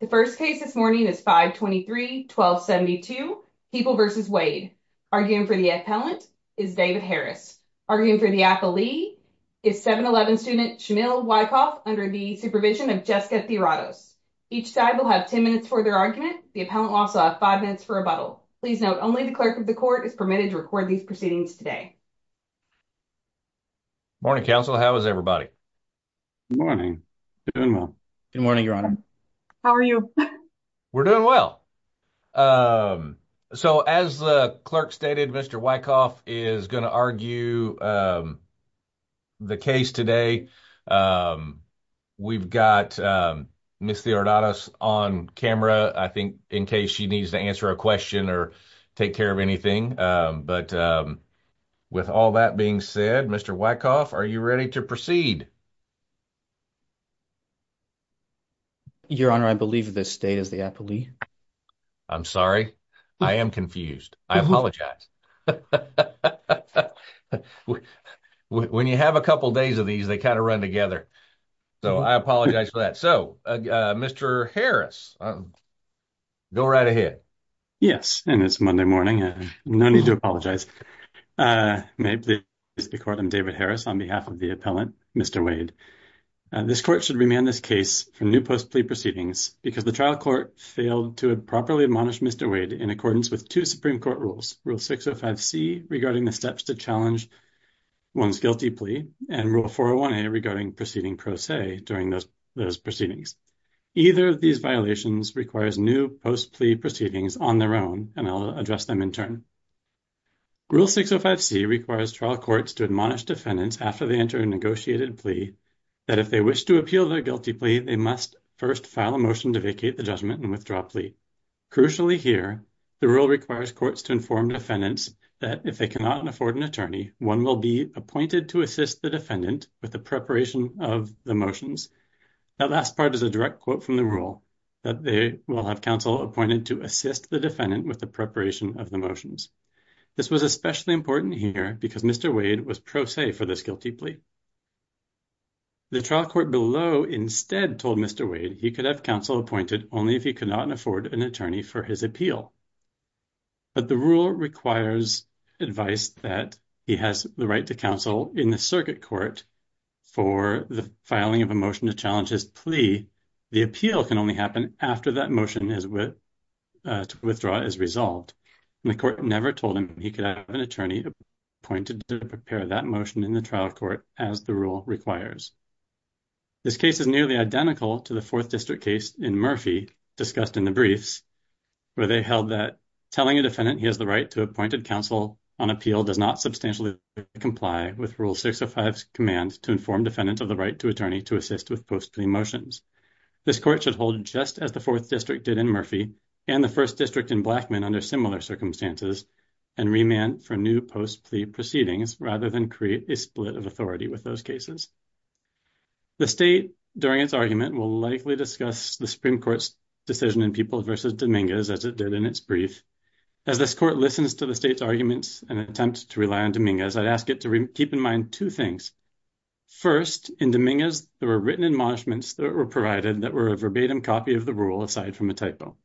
The first case this morning is 523-1272, People v. Wade. Arguing for the appellant is David Harris. Arguing for the appellee is 711 student Shamil Wyckoff under the supervision of Jessica Theoratos. Each side will have 10 minutes for their argument. The appellant will also have 5 minutes for rebuttal. Please note only the clerk of the court is permitted to record these proceedings today. Morning, counsel. How is everybody? Good morning. Doing well. Good morning, Your Honor. How are you? We're doing well. So as the clerk stated, Mr. Wyckoff is going to argue the case today. We've got Ms. Theoratos on camera, I think, in case she needs to answer a question or take care of anything. But with all that being said, Mr. Wyckoff, are you ready to proceed? Your Honor, I believe this state is the appellee. I'm sorry. I am confused. I apologize. When you have a couple days of these, they kind of run together. So I apologize for that. So, Mr. Harris, go right ahead. Yes, and it's Monday morning. No need to apologize. May it please the court, I'm David Harris on behalf of the appellant, Mr. Wade. This court should remand this case for new post-plea proceedings because the trial court failed to properly admonish Mr. Wade in accordance with two Supreme Court rules, Rule 605C regarding the steps to challenge one's guilty plea, and Rule 401A regarding proceeding pro se during those proceedings. Either of these violations requires new post-plea proceedings on their own, and I'll address them in turn. Rule 605C requires trial courts to admonish defendants after they enter a negotiated plea that if they wish to appeal their guilty plea, they must first file a motion to vacate the judgment and withdraw plea. Crucially here, the rule requires courts to inform defendants that if they cannot afford an attorney, one will be appointed to assist the defendant with the preparation of the motions. That last part is a direct quote from the rule, that they will have counsel appointed to assist the defendant with the preparation of the motions. This was especially important here because Mr. Wade was pro se for this guilty plea. The trial court below instead told Mr. Wade he could have counsel appointed only if he could not afford an attorney for his appeal, but the rule requires advice that he has the right to counsel in the circuit court for the filing of a motion to challenge his plea. The appeal can only happen after that motion to withdraw is resolved, and the court never told him he could have an attorney appointed to prepare that motion in the trial court as the rule requires. This case is nearly identical to the Fourth District case in Murphy, discussed in the briefs, where they held that telling a defendant he has the right to appointed counsel on appeal does not substantially comply with Rule 605's command to inform defendants of the right to attorney to assist with post-plea motions. This court should hold just as the Fourth District did in Murphy, and the First District in Blackmun under similar circumstances, and remand for new post-plea proceedings rather than create a split of authority with those cases. The state, during its argument, will likely discuss the Supreme Court's decision in People v. Dominguez as it did in its brief. As this court listens to the state's arguments and attempts to rely on Dominguez, I'd ask it to keep in mind two things. First, in Dominguez there were written admonishments that were provided that were a verbatim copy of the rule, aside from a typo.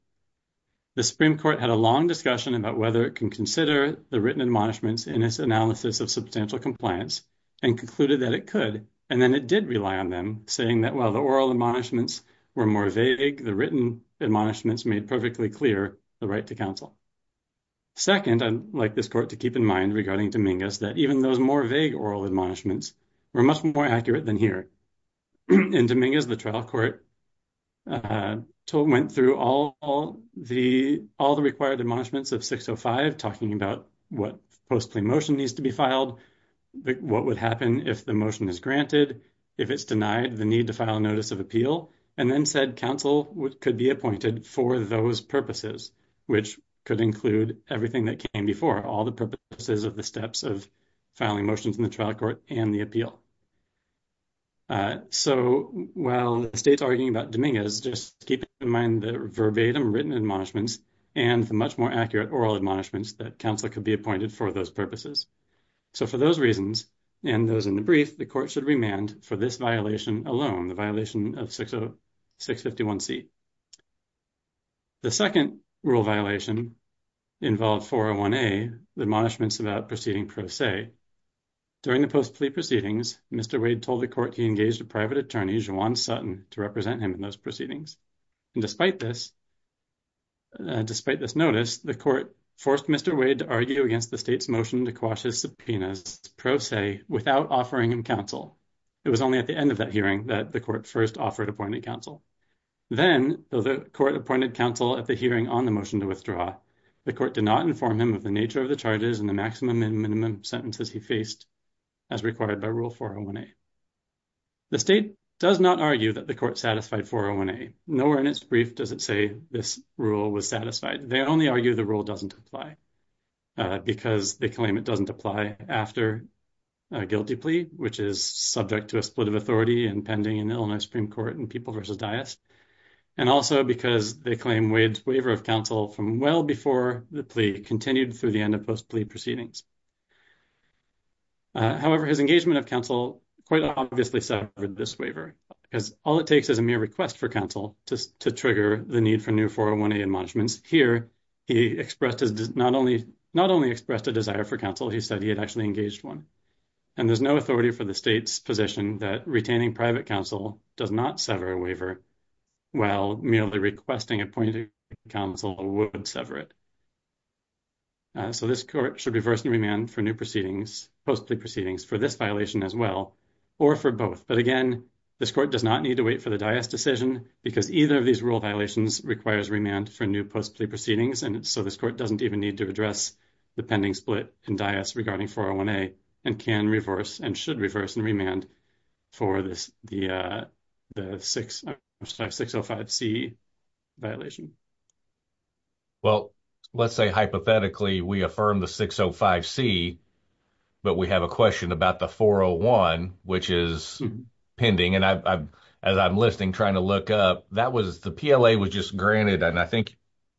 The Supreme Court had a long discussion about whether it can consider the written admonishments in its analysis of substantial compliance and concluded that it could, and then it did rely on them, saying that while the oral admonishments were more vague, the written admonishments made perfectly clear the right to counsel. Second, I'd like this court to keep in mind regarding Dominguez that even those more vague oral admonishments were much more than here. In Dominguez, the trial court went through all the required admonishments of 605, talking about what post-plea motion needs to be filed, what would happen if the motion is granted, if it's denied, the need to file a notice of appeal, and then said counsel could be appointed for those purposes, which could include everything that came before, all the purposes of the steps of filing motions in the trial court and the appeal. So while the state's arguing about Dominguez, just keep in mind the verbatim written admonishments and the much more accurate oral admonishments that counsel could be appointed for those purposes. So for those reasons and those in the brief, the court should remand for this violation alone, the violation of 651C. The second rule violation involved 401A, the admonishments about proceeding pro se. During the post-plea proceedings, Mr. Wade told the court he engaged a private attorney, Juwan Sutton, to represent him in those proceedings. And despite this, despite this notice, the court forced Mr. Wade to argue against the state's motion to quash his subpoenas pro se without offering him counsel. It was only at the end of that hearing that the court first appointed counsel. Then the court appointed counsel at the hearing on the motion to withdraw. The court did not inform him of the nature of the charges and the maximum and minimum sentences he faced as required by Rule 401A. The state does not argue that the court satisfied 401A. Nowhere in its brief does it say this rule was satisfied. They only argue the rule doesn't apply because they claim it doesn't apply after a guilty plea, which is subject to a split of authority and Illinois Supreme Court in People v. Dias, and also because they claim Wade's waiver of counsel from well before the plea continued through the end of post-plea proceedings. However, his engagement of counsel quite obviously suffered this waiver, because all it takes is a mere request for counsel to trigger the need for new 401A admonishments. Here, he expressed not only expressed a desire for counsel, he said he had actually engaged one. And there's no authority for the state's position that private counsel does not sever a waiver while merely requesting appointed counsel would sever it. So this court should reverse and remand for new post-plea proceedings for this violation as well, or for both. But again, this court does not need to wait for the Dias decision, because either of these rule violations requires remand for new post-plea proceedings, and so this court doesn't even need to address the pending split in Dias regarding 401A, and can reverse and should reverse and remand for the 605C violation. Well, let's say hypothetically we affirm the 605C, but we have a question about the 401, which is pending. And as I'm listening, trying to look up, the PLA was just granted, and I think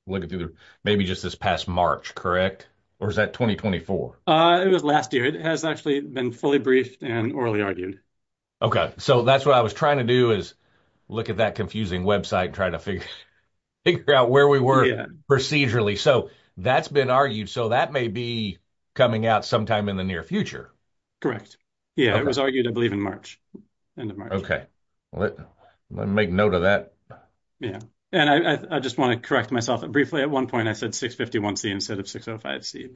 looking through, maybe just this past March, correct? Or is that 2024? It was last year. It has actually been fully briefed and orally argued. Okay. So that's what I was trying to do, is look at that confusing website, try to figure out where we were procedurally. So that's been argued, so that may be coming out sometime in the near future. Correct. Yeah, it was argued, I believe, in March. End of March. Okay. Let me make note of that. Yeah. And I just want to correct myself briefly. At one point, I said 651C instead of 605C.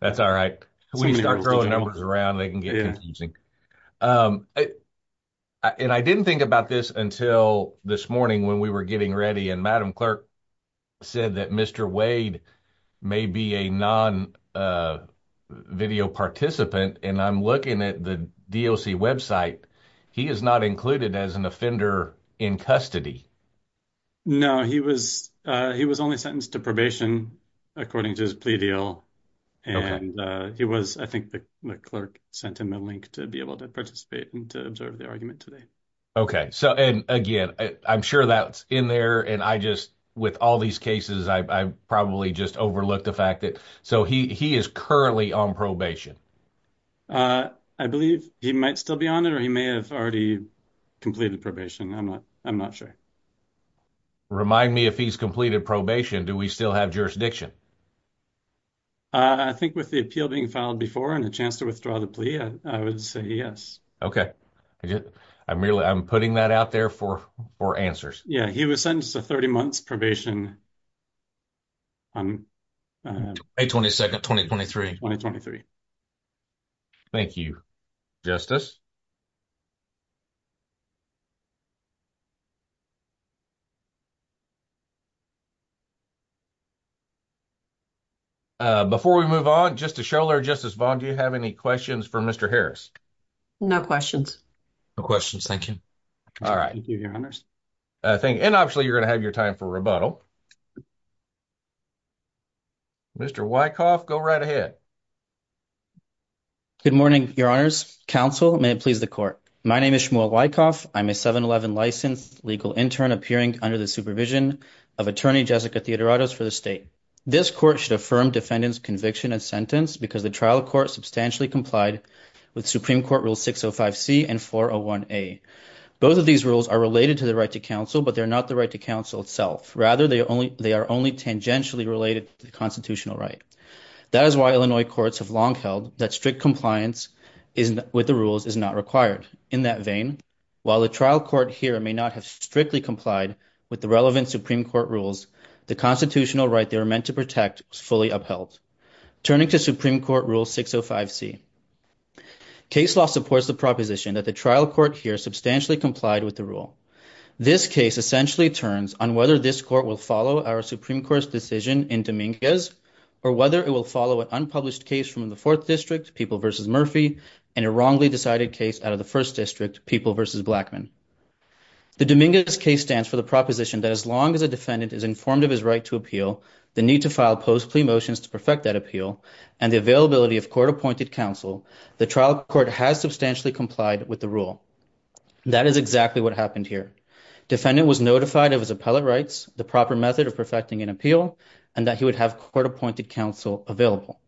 That's all right. When you start throwing numbers around, they can get confusing. And I didn't think about this until this morning when we were getting ready, and Madam Clerk said that Mr. Wade may be a non-video participant, and I'm looking at the DOC website. He is not included as an offender in custody. No, he was only sentenced to probation according to his plea deal, and I think the clerk sent him a link to be able to participate and to observe the argument today. Okay. And again, I'm sure that's in there, and with all these cases, I probably just overlooked the fact that... So he is currently on probation. I believe he might still be on it, or he may have already completed probation. I'm not sure. Remind me, if he's completed probation, do we still have jurisdiction? I think with the appeal being filed before and the chance to withdraw the plea, I would say yes. Okay. I'm putting that out there for answers. Yeah. He was sentenced to 30 months probation. May 22nd, 2023. Thank you, Justice. Before we move on, just to show, Justice Vaughn, do you have any questions for Mr. Harris? No questions. No questions. Thank you. All right. And obviously, you're going to have your time for rebuttal. Mr. Wyckoff, go right ahead. Good morning, Your Honors. Counsel, may it please the court. My name is Shmuel Wyckoff. I'm a 7-11 legal intern appearing under the supervision of Attorney Jessica Theodoratos for the state. This court should affirm defendant's conviction and sentence because the trial court substantially complied with Supreme Court Rules 605C and 401A. Both of these rules are related to the right to counsel, but they're not the right to counsel itself. Rather, they are only tangentially related to the constitutional right. That is why Illinois courts have long held that strict may not have strictly complied with the relevant Supreme Court rules. The constitutional right they are meant to protect is fully upheld. Turning to Supreme Court Rule 605C, case law supports the proposition that the trial court here substantially complied with the rule. This case essentially turns on whether this court will follow our Supreme Court's decision in Dominguez or whether it will follow an unpublished case from the 4th District, People v. Murphy, and a wrongly decided case out of the 1st District, People v. Blackmun. The Dominguez case stands for the proposition that as long as a defendant is informed of his right to appeal, the need to file post-plea motions to perfect that appeal, and the availability of court-appointed counsel, the trial court has substantially complied with the rule. That is exactly what happened here. Defendant was notified of his appellate rights, the proper method of perfecting an appeal, and that he would have court-appointed counsel available.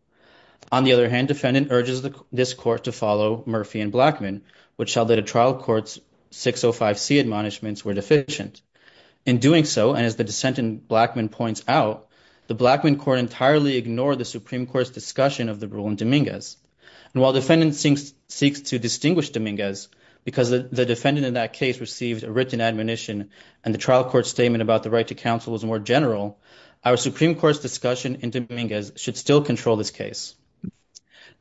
On the other hand, defendant urges this court to follow Murphy and Blackmun, which showed that a trial court's 605C admonishments were deficient. In doing so, and as the dissent in Blackmun points out, the Blackmun court entirely ignored the Supreme Court's discussion of the rule in Dominguez. And while defendant seeks to distinguish Dominguez because the defendant in that case received a written admonition and the trial court's statement about the right to counsel was more general, our Supreme Court's discussion in Dominguez should still control this case.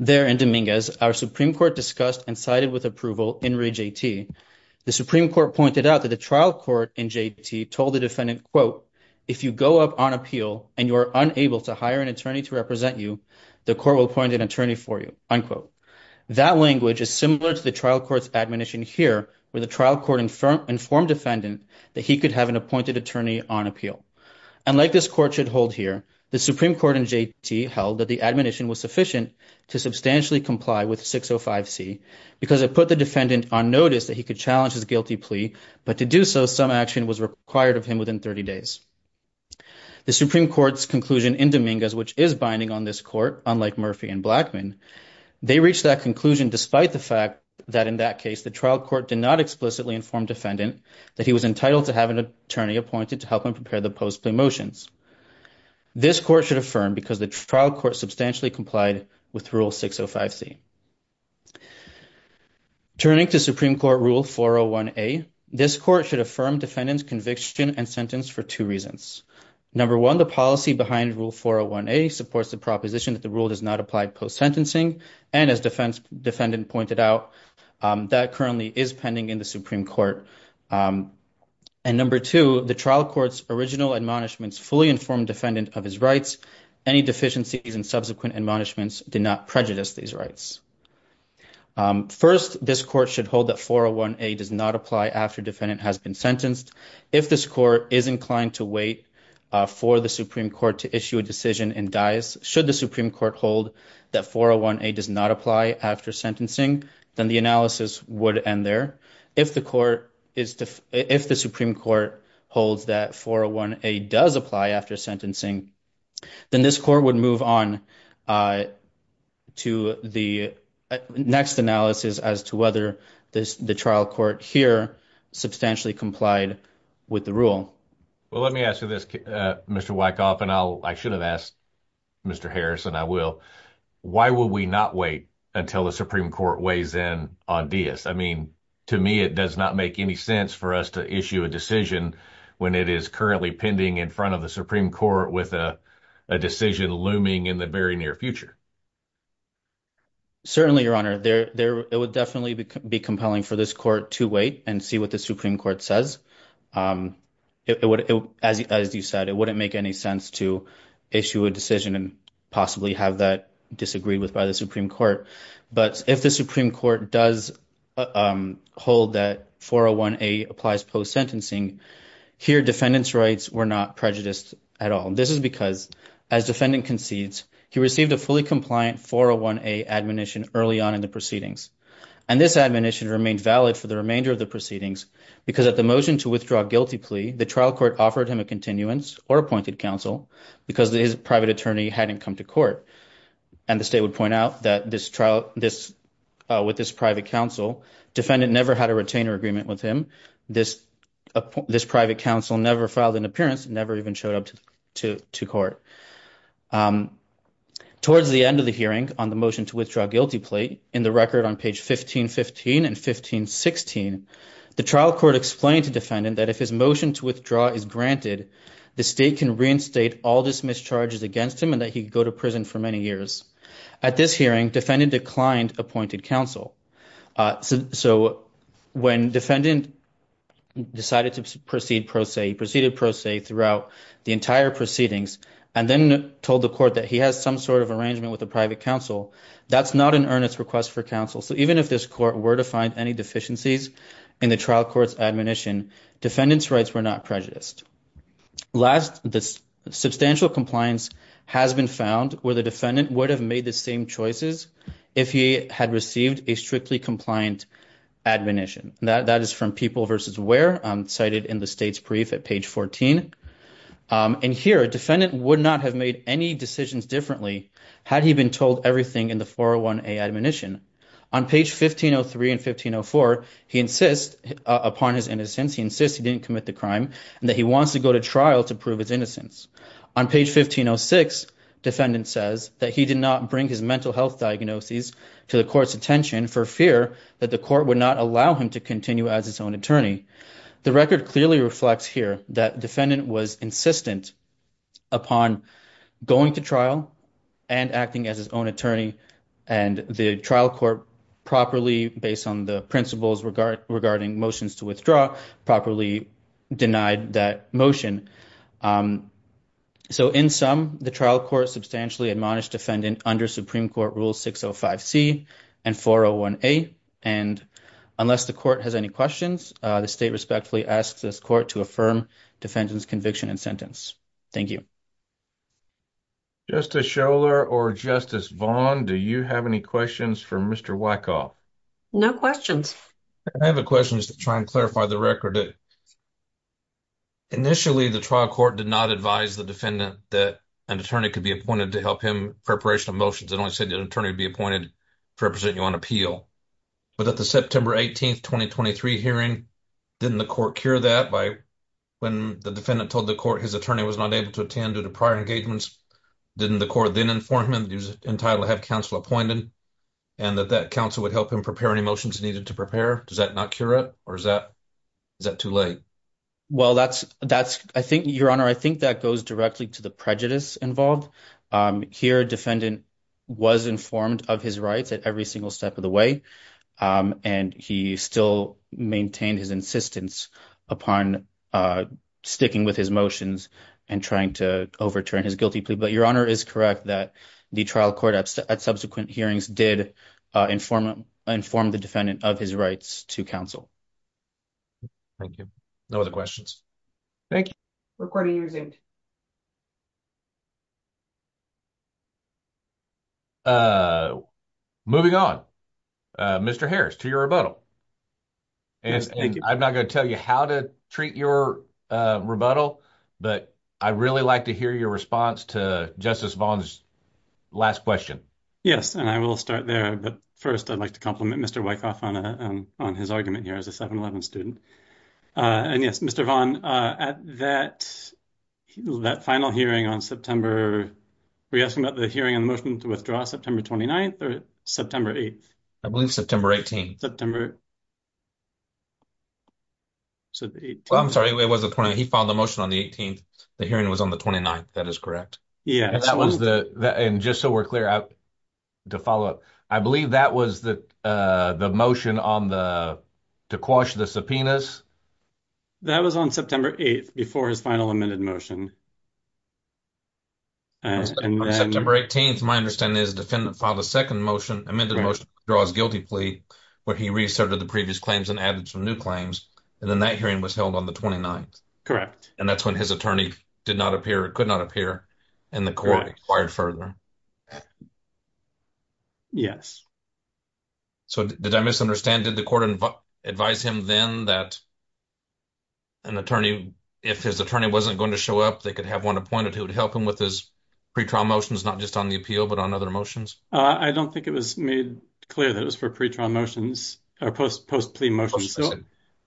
There in Dominguez, our Supreme Court discussed and sided with approval in reJT. The Supreme Court pointed out that the trial court in JT told the defendant, quote, if you go up on appeal and you are unable to hire an attorney to represent you, the court will appoint an attorney for you, unquote. That language is similar to the trial court's admonition here, where the trial court informed defendant that he could have an appointed attorney on appeal. And like this court should hold here, the Supreme Court in JT held that the to substantially comply with 605C because it put the defendant on notice that he could challenge his guilty plea. But to do so, some action was required of him within 30 days. The Supreme Court's conclusion in Dominguez, which is binding on this court, unlike Murphy and Blackmun, they reached that conclusion despite the fact that in that case, the trial court did not explicitly inform defendant that he was entitled to have an attorney appointed to help prepare the post-plea motions. This court should affirm because the trial court substantially complied with Rule 605C. Turning to Supreme Court Rule 401A, this court should affirm defendant's conviction and sentence for two reasons. Number one, the policy behind Rule 401A supports the proposition that the rule does not apply post-sentencing. And as defendant pointed out, that currently is pending in the Supreme Court. And number two, the trial court's original admonishments fully informed defendant of his rights. Any deficiencies in subsequent admonishments did not prejudice these rights. First, this court should hold that 401A does not apply after defendant has been sentenced. If this court is inclined to wait for the Supreme Court to issue a decision and dies, should the Supreme Court hold that 401A does not apply after sentencing, then the analysis would end there. If the Supreme Court holds that 401A does apply after sentencing, then this court would move on to the next analysis as to whether the trial court here substantially complied with the rule. Well, let me ask you this, Mr. Wykoff, and I should have asked Mr. Harrison, I will. Why will we not wait until the Supreme Court weighs in on Diaz? I mean, to me, it does not make any sense for us to issue a decision when it is currently pending in front of the Supreme Court with a decision looming in the very near future. Certainly, Your Honor. It would definitely be compelling for this court to wait and see what the Supreme Court says. As you said, it would not make any sense to issue a decision and possibly have that disagreed with by the Supreme Court. But if the Supreme Court does hold that 401A applies post-sentencing, here defendant's rights were not prejudiced at all. This is because as defendant concedes, he received a fully compliant 401A admonition early on in the proceedings. And this admonition remained valid for the remainder of the proceedings, because at the motion to withdraw guilty plea, the trial court offered him a continuance or appointed counsel because his private attorney hadn't come to court. And the state would point out that with this private counsel, defendant never had a retainer agreement with him. This private counsel never filed an appearance, never even showed up to court. Towards the end of the hearing on the motion to withdraw guilty plea, in the record on page 1515 and 1516, the trial court explained to defendant that if his motion to withdraw is granted, the state can reinstate all dismiss charges against him and that he could go to prison for many years. At this hearing, defendant declined appointed counsel. So when defendant decided to proceed pro se, he proceeded pro se throughout the entire proceedings and then told the court that he has some sort of arrangement with the private counsel. That's not an earnest request for counsel. So even if this court were to find any deficiencies in the trial court's admonition, defendant's rights were not prejudiced. Last, the substantial compliance has been found where the defendant would have made the same choices if he had received a strictly compliant admonition. That is from people versus where, cited in the state's brief at page 14. And here, defendant would not have made any decisions differently had he been told everything in the 401A admonition. On page 1503 and 1504, he insists upon his innocence, he insists he didn't commit the crime and that he wants to go to trial to prove his innocence. On page 1506, defendant says that he did not bring his mental health diagnoses to the court's attention for fear that the court would not allow him to continue as his own attorney. The record clearly reflects here that defendant was insistent upon going to trial and acting as his own attorney, and the trial court properly, based on the principles regarding motions to withdraw, properly denied that motion. So in sum, the trial court substantially admonished defendant under Supreme Court Rule 605C and 401A. And unless the court has any questions, the state respectfully asks this court to affirm defendant's conviction and sentence. Thank you. Justice Scholar or Justice Vaughn, do you have any questions for Mr. Wyckoff? No questions. I have a question just to try and clarify the record. Initially, the trial court did not advise the defendant that an attorney could be appointed to help him in preparation of motions. It only said that an attorney would be appointed to represent you on appeal. But at the September 18th, 2023 hearing, didn't the court cure that when the defendant told the court his attorney was not able to attend due to prior engagements? Didn't the court then inform him that he was entitled to have counsel appointed, and that that counsel would help him prepare any motions needed to prepare? Does that not cure it, or is that too late? Well, Your Honor, I think that goes directly to the prejudice involved. Here, defendant was informed of his rights at every single step of the way, and he still maintained his insistence upon sticking with his motions and trying to overturn his guilty plea. But Your Honor is correct that the trial court at subsequent hearings did inform the defendant of his rights to counsel. Thank you. No other questions. Thank you. Recording resumed. Moving on, Mr. Harris, to your rebuttal. I'm not going to tell you how to treat your rebuttal, but I'd really like to hear your response to Justice Vaughn's last question. Yes, and I will start there, but first I'd like to compliment Mr. Wyckoff on his argument here as a 7-Eleven student. And yes, Mr. Vaughn, at that final hearing on September, were you asking about the hearing on the motion to withdraw September 29th or September 8th? I believe September 18th. So, the 18th. Well, I'm sorry, he filed the motion on the 18th, the hearing was on the 29th, that is correct. Yeah, and just so we're clear, to follow up, I believe that was the motion to quash the subpoenas? That was on September 8th before his final amended motion. On September 18th, my understanding is the defendant filed a second motion, amended motion to withdraw his guilty plea, where he re-asserted the previous claims and added some new claims, and then that hearing was held on the 29th. Correct. And that's when his attorney did not appear, or could not appear, and the court acquired further. Yes. So, did I misunderstand? Did the court advise him then that an attorney, if his attorney wasn't going to show up, they could have one appointed who would help him with his pretrial motions, not just on the appeal, but on other motions? I don't think it was made clear that it was for pretrial motions, or post-plea motions. So,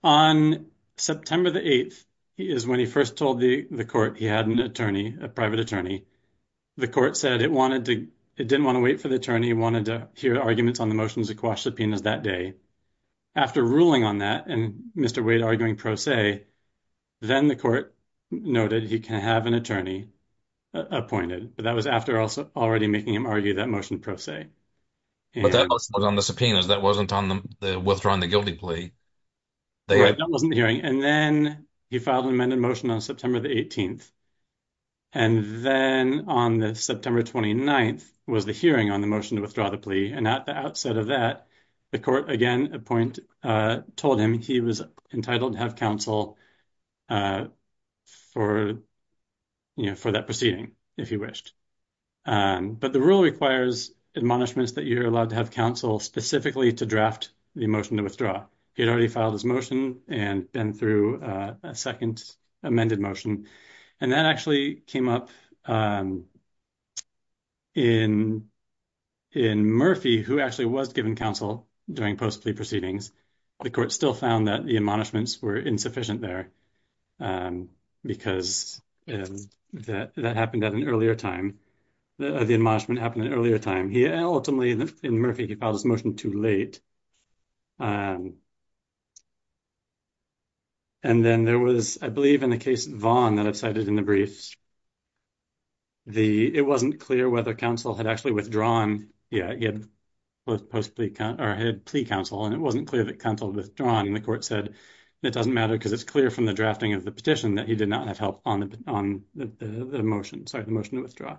on September 8th is when he first told the court he had an attorney, a private attorney. The court said it wanted to, it didn't want to wait for the attorney, it wanted to hear arguments on the motions to quash subpoenas that day. After ruling on that, and Mr. Wade arguing pro se, then the court noted he can have an attorney appointed, but that was after already making him argue that motion pro se. But that wasn't on the subpoenas, that wasn't on the withdrawing the guilty plea. Right, that wasn't the hearing. And then he filed an amended motion on September the 18th. And then on the September 29th was the hearing on the motion to withdraw the plea. And at the outset of that, the court again told him he was entitled to have counsel for that proceeding, if he wished. But the rule requires admonishments that you're allowed to have counsel specifically to draft the motion to withdraw. He had already filed his motion and been through a second amended motion. And that actually came up in Murphy, who actually was given counsel during post-plea proceedings. The court still found that the admonishments were insufficient there because that happened at an earlier time, the admonishment happened at an earlier time. Ultimately, in Murphy, he filed his motion too late. And then there was, I believe, in the case Vaughan that I've cited in the briefs, it wasn't clear whether counsel had actually withdrawn. Yeah, he had post-plea counsel, and it wasn't clear that counsel had withdrawn. And the court said, it doesn't matter because it's clear from the drafting of the petition that he did not have help on the motion, withdraw.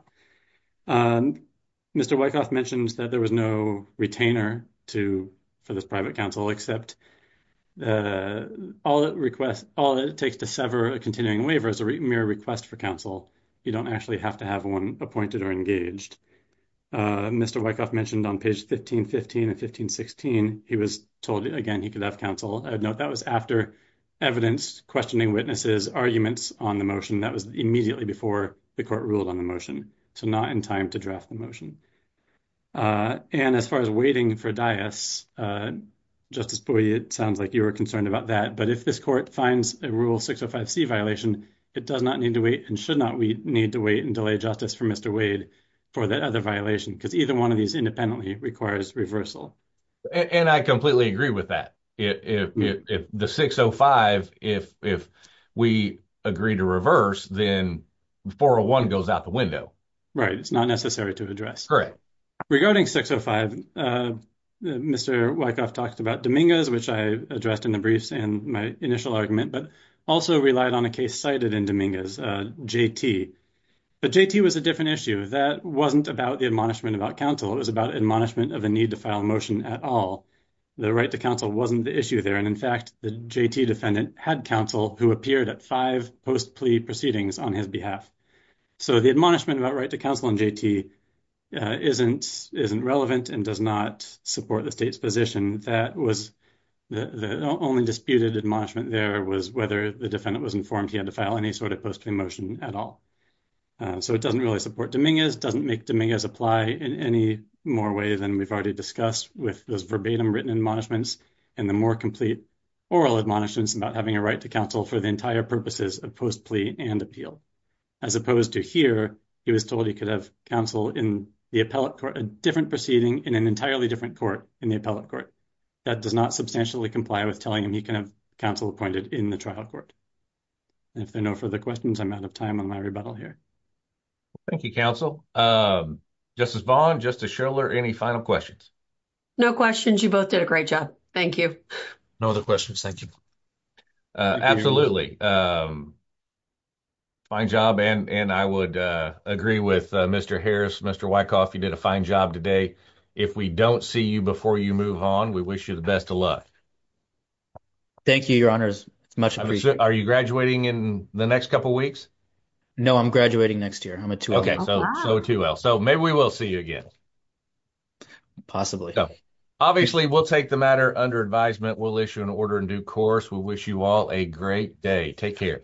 Mr. Wyckoff mentioned that there was no retainer for this private counsel, except all it takes to sever a continuing waiver is a mere request for counsel. You don't actually have to have one appointed or engaged. Mr. Wyckoff mentioned on page 1515 and 1516, he was told again he could have counsel. I would note that was after evidence, questioning witnesses, arguments on the motion. That was immediately before the court ruled on the motion, so not in time to draft the motion. And as far as waiting for dias, Justice Boyd, it sounds like you were concerned about that. But if this court finds a Rule 605C violation, it does not need to wait, and should not need to wait and delay justice for Mr. Wade for that other violation, because either one of these independently requires reversal. And I completely agree with that. If the 605, if we agree to reverse, then 401 goes out the window. Right. It's not necessary to address. Correct. Regarding 605, Mr. Wyckoff talked about Dominguez, which I addressed in the briefs and my initial argument, but also relied on a case cited in Dominguez, JT. But JT was a different issue. That wasn't about the admonishment about counsel. It was about admonishment of the need to file a motion at all. The right to counsel wasn't the issue there. And in fact, the JT defendant had counsel who appeared at five post-plea proceedings on his behalf. So the admonishment about right to counsel in JT isn't relevant and does not support the state's position. That was the only disputed admonishment there was whether the defendant was informed he had to file any sort of post-plea motion at all. So it doesn't really support Dominguez, doesn't make Dominguez apply in any more way than we've already discussed with those verbatim written admonishments and the more complete oral admonishments about having a right to counsel for the entire purposes of post-plea and appeal. As opposed to here, he was told he could have counsel in the appellate court, a different proceeding in an entirely different court in the appellate court. That does not substantially comply with telling him he can have counsel appointed in the trial court. And if there are no further questions, I'm out of time on my rebuttal here. Thank you, counsel. Justice Vaughn, Justice Schiller, any final questions? No questions, you both did a great job. Thank you. No other questions, thank you. Absolutely. Fine job and I would agree with Mr. Harris, Mr. Wyckoff, you did a fine job today. If we don't see you before you move on, we wish you the best of luck. Thank you, your honors. Are you graduating in the next couple weeks? No, I'm graduating next year. I'm a 2L. Okay, so a 2L. So maybe we will see you again. Possibly. Obviously, we'll take the matter under advisement. We'll issue an order in due course. We wish you all a great day. Take care.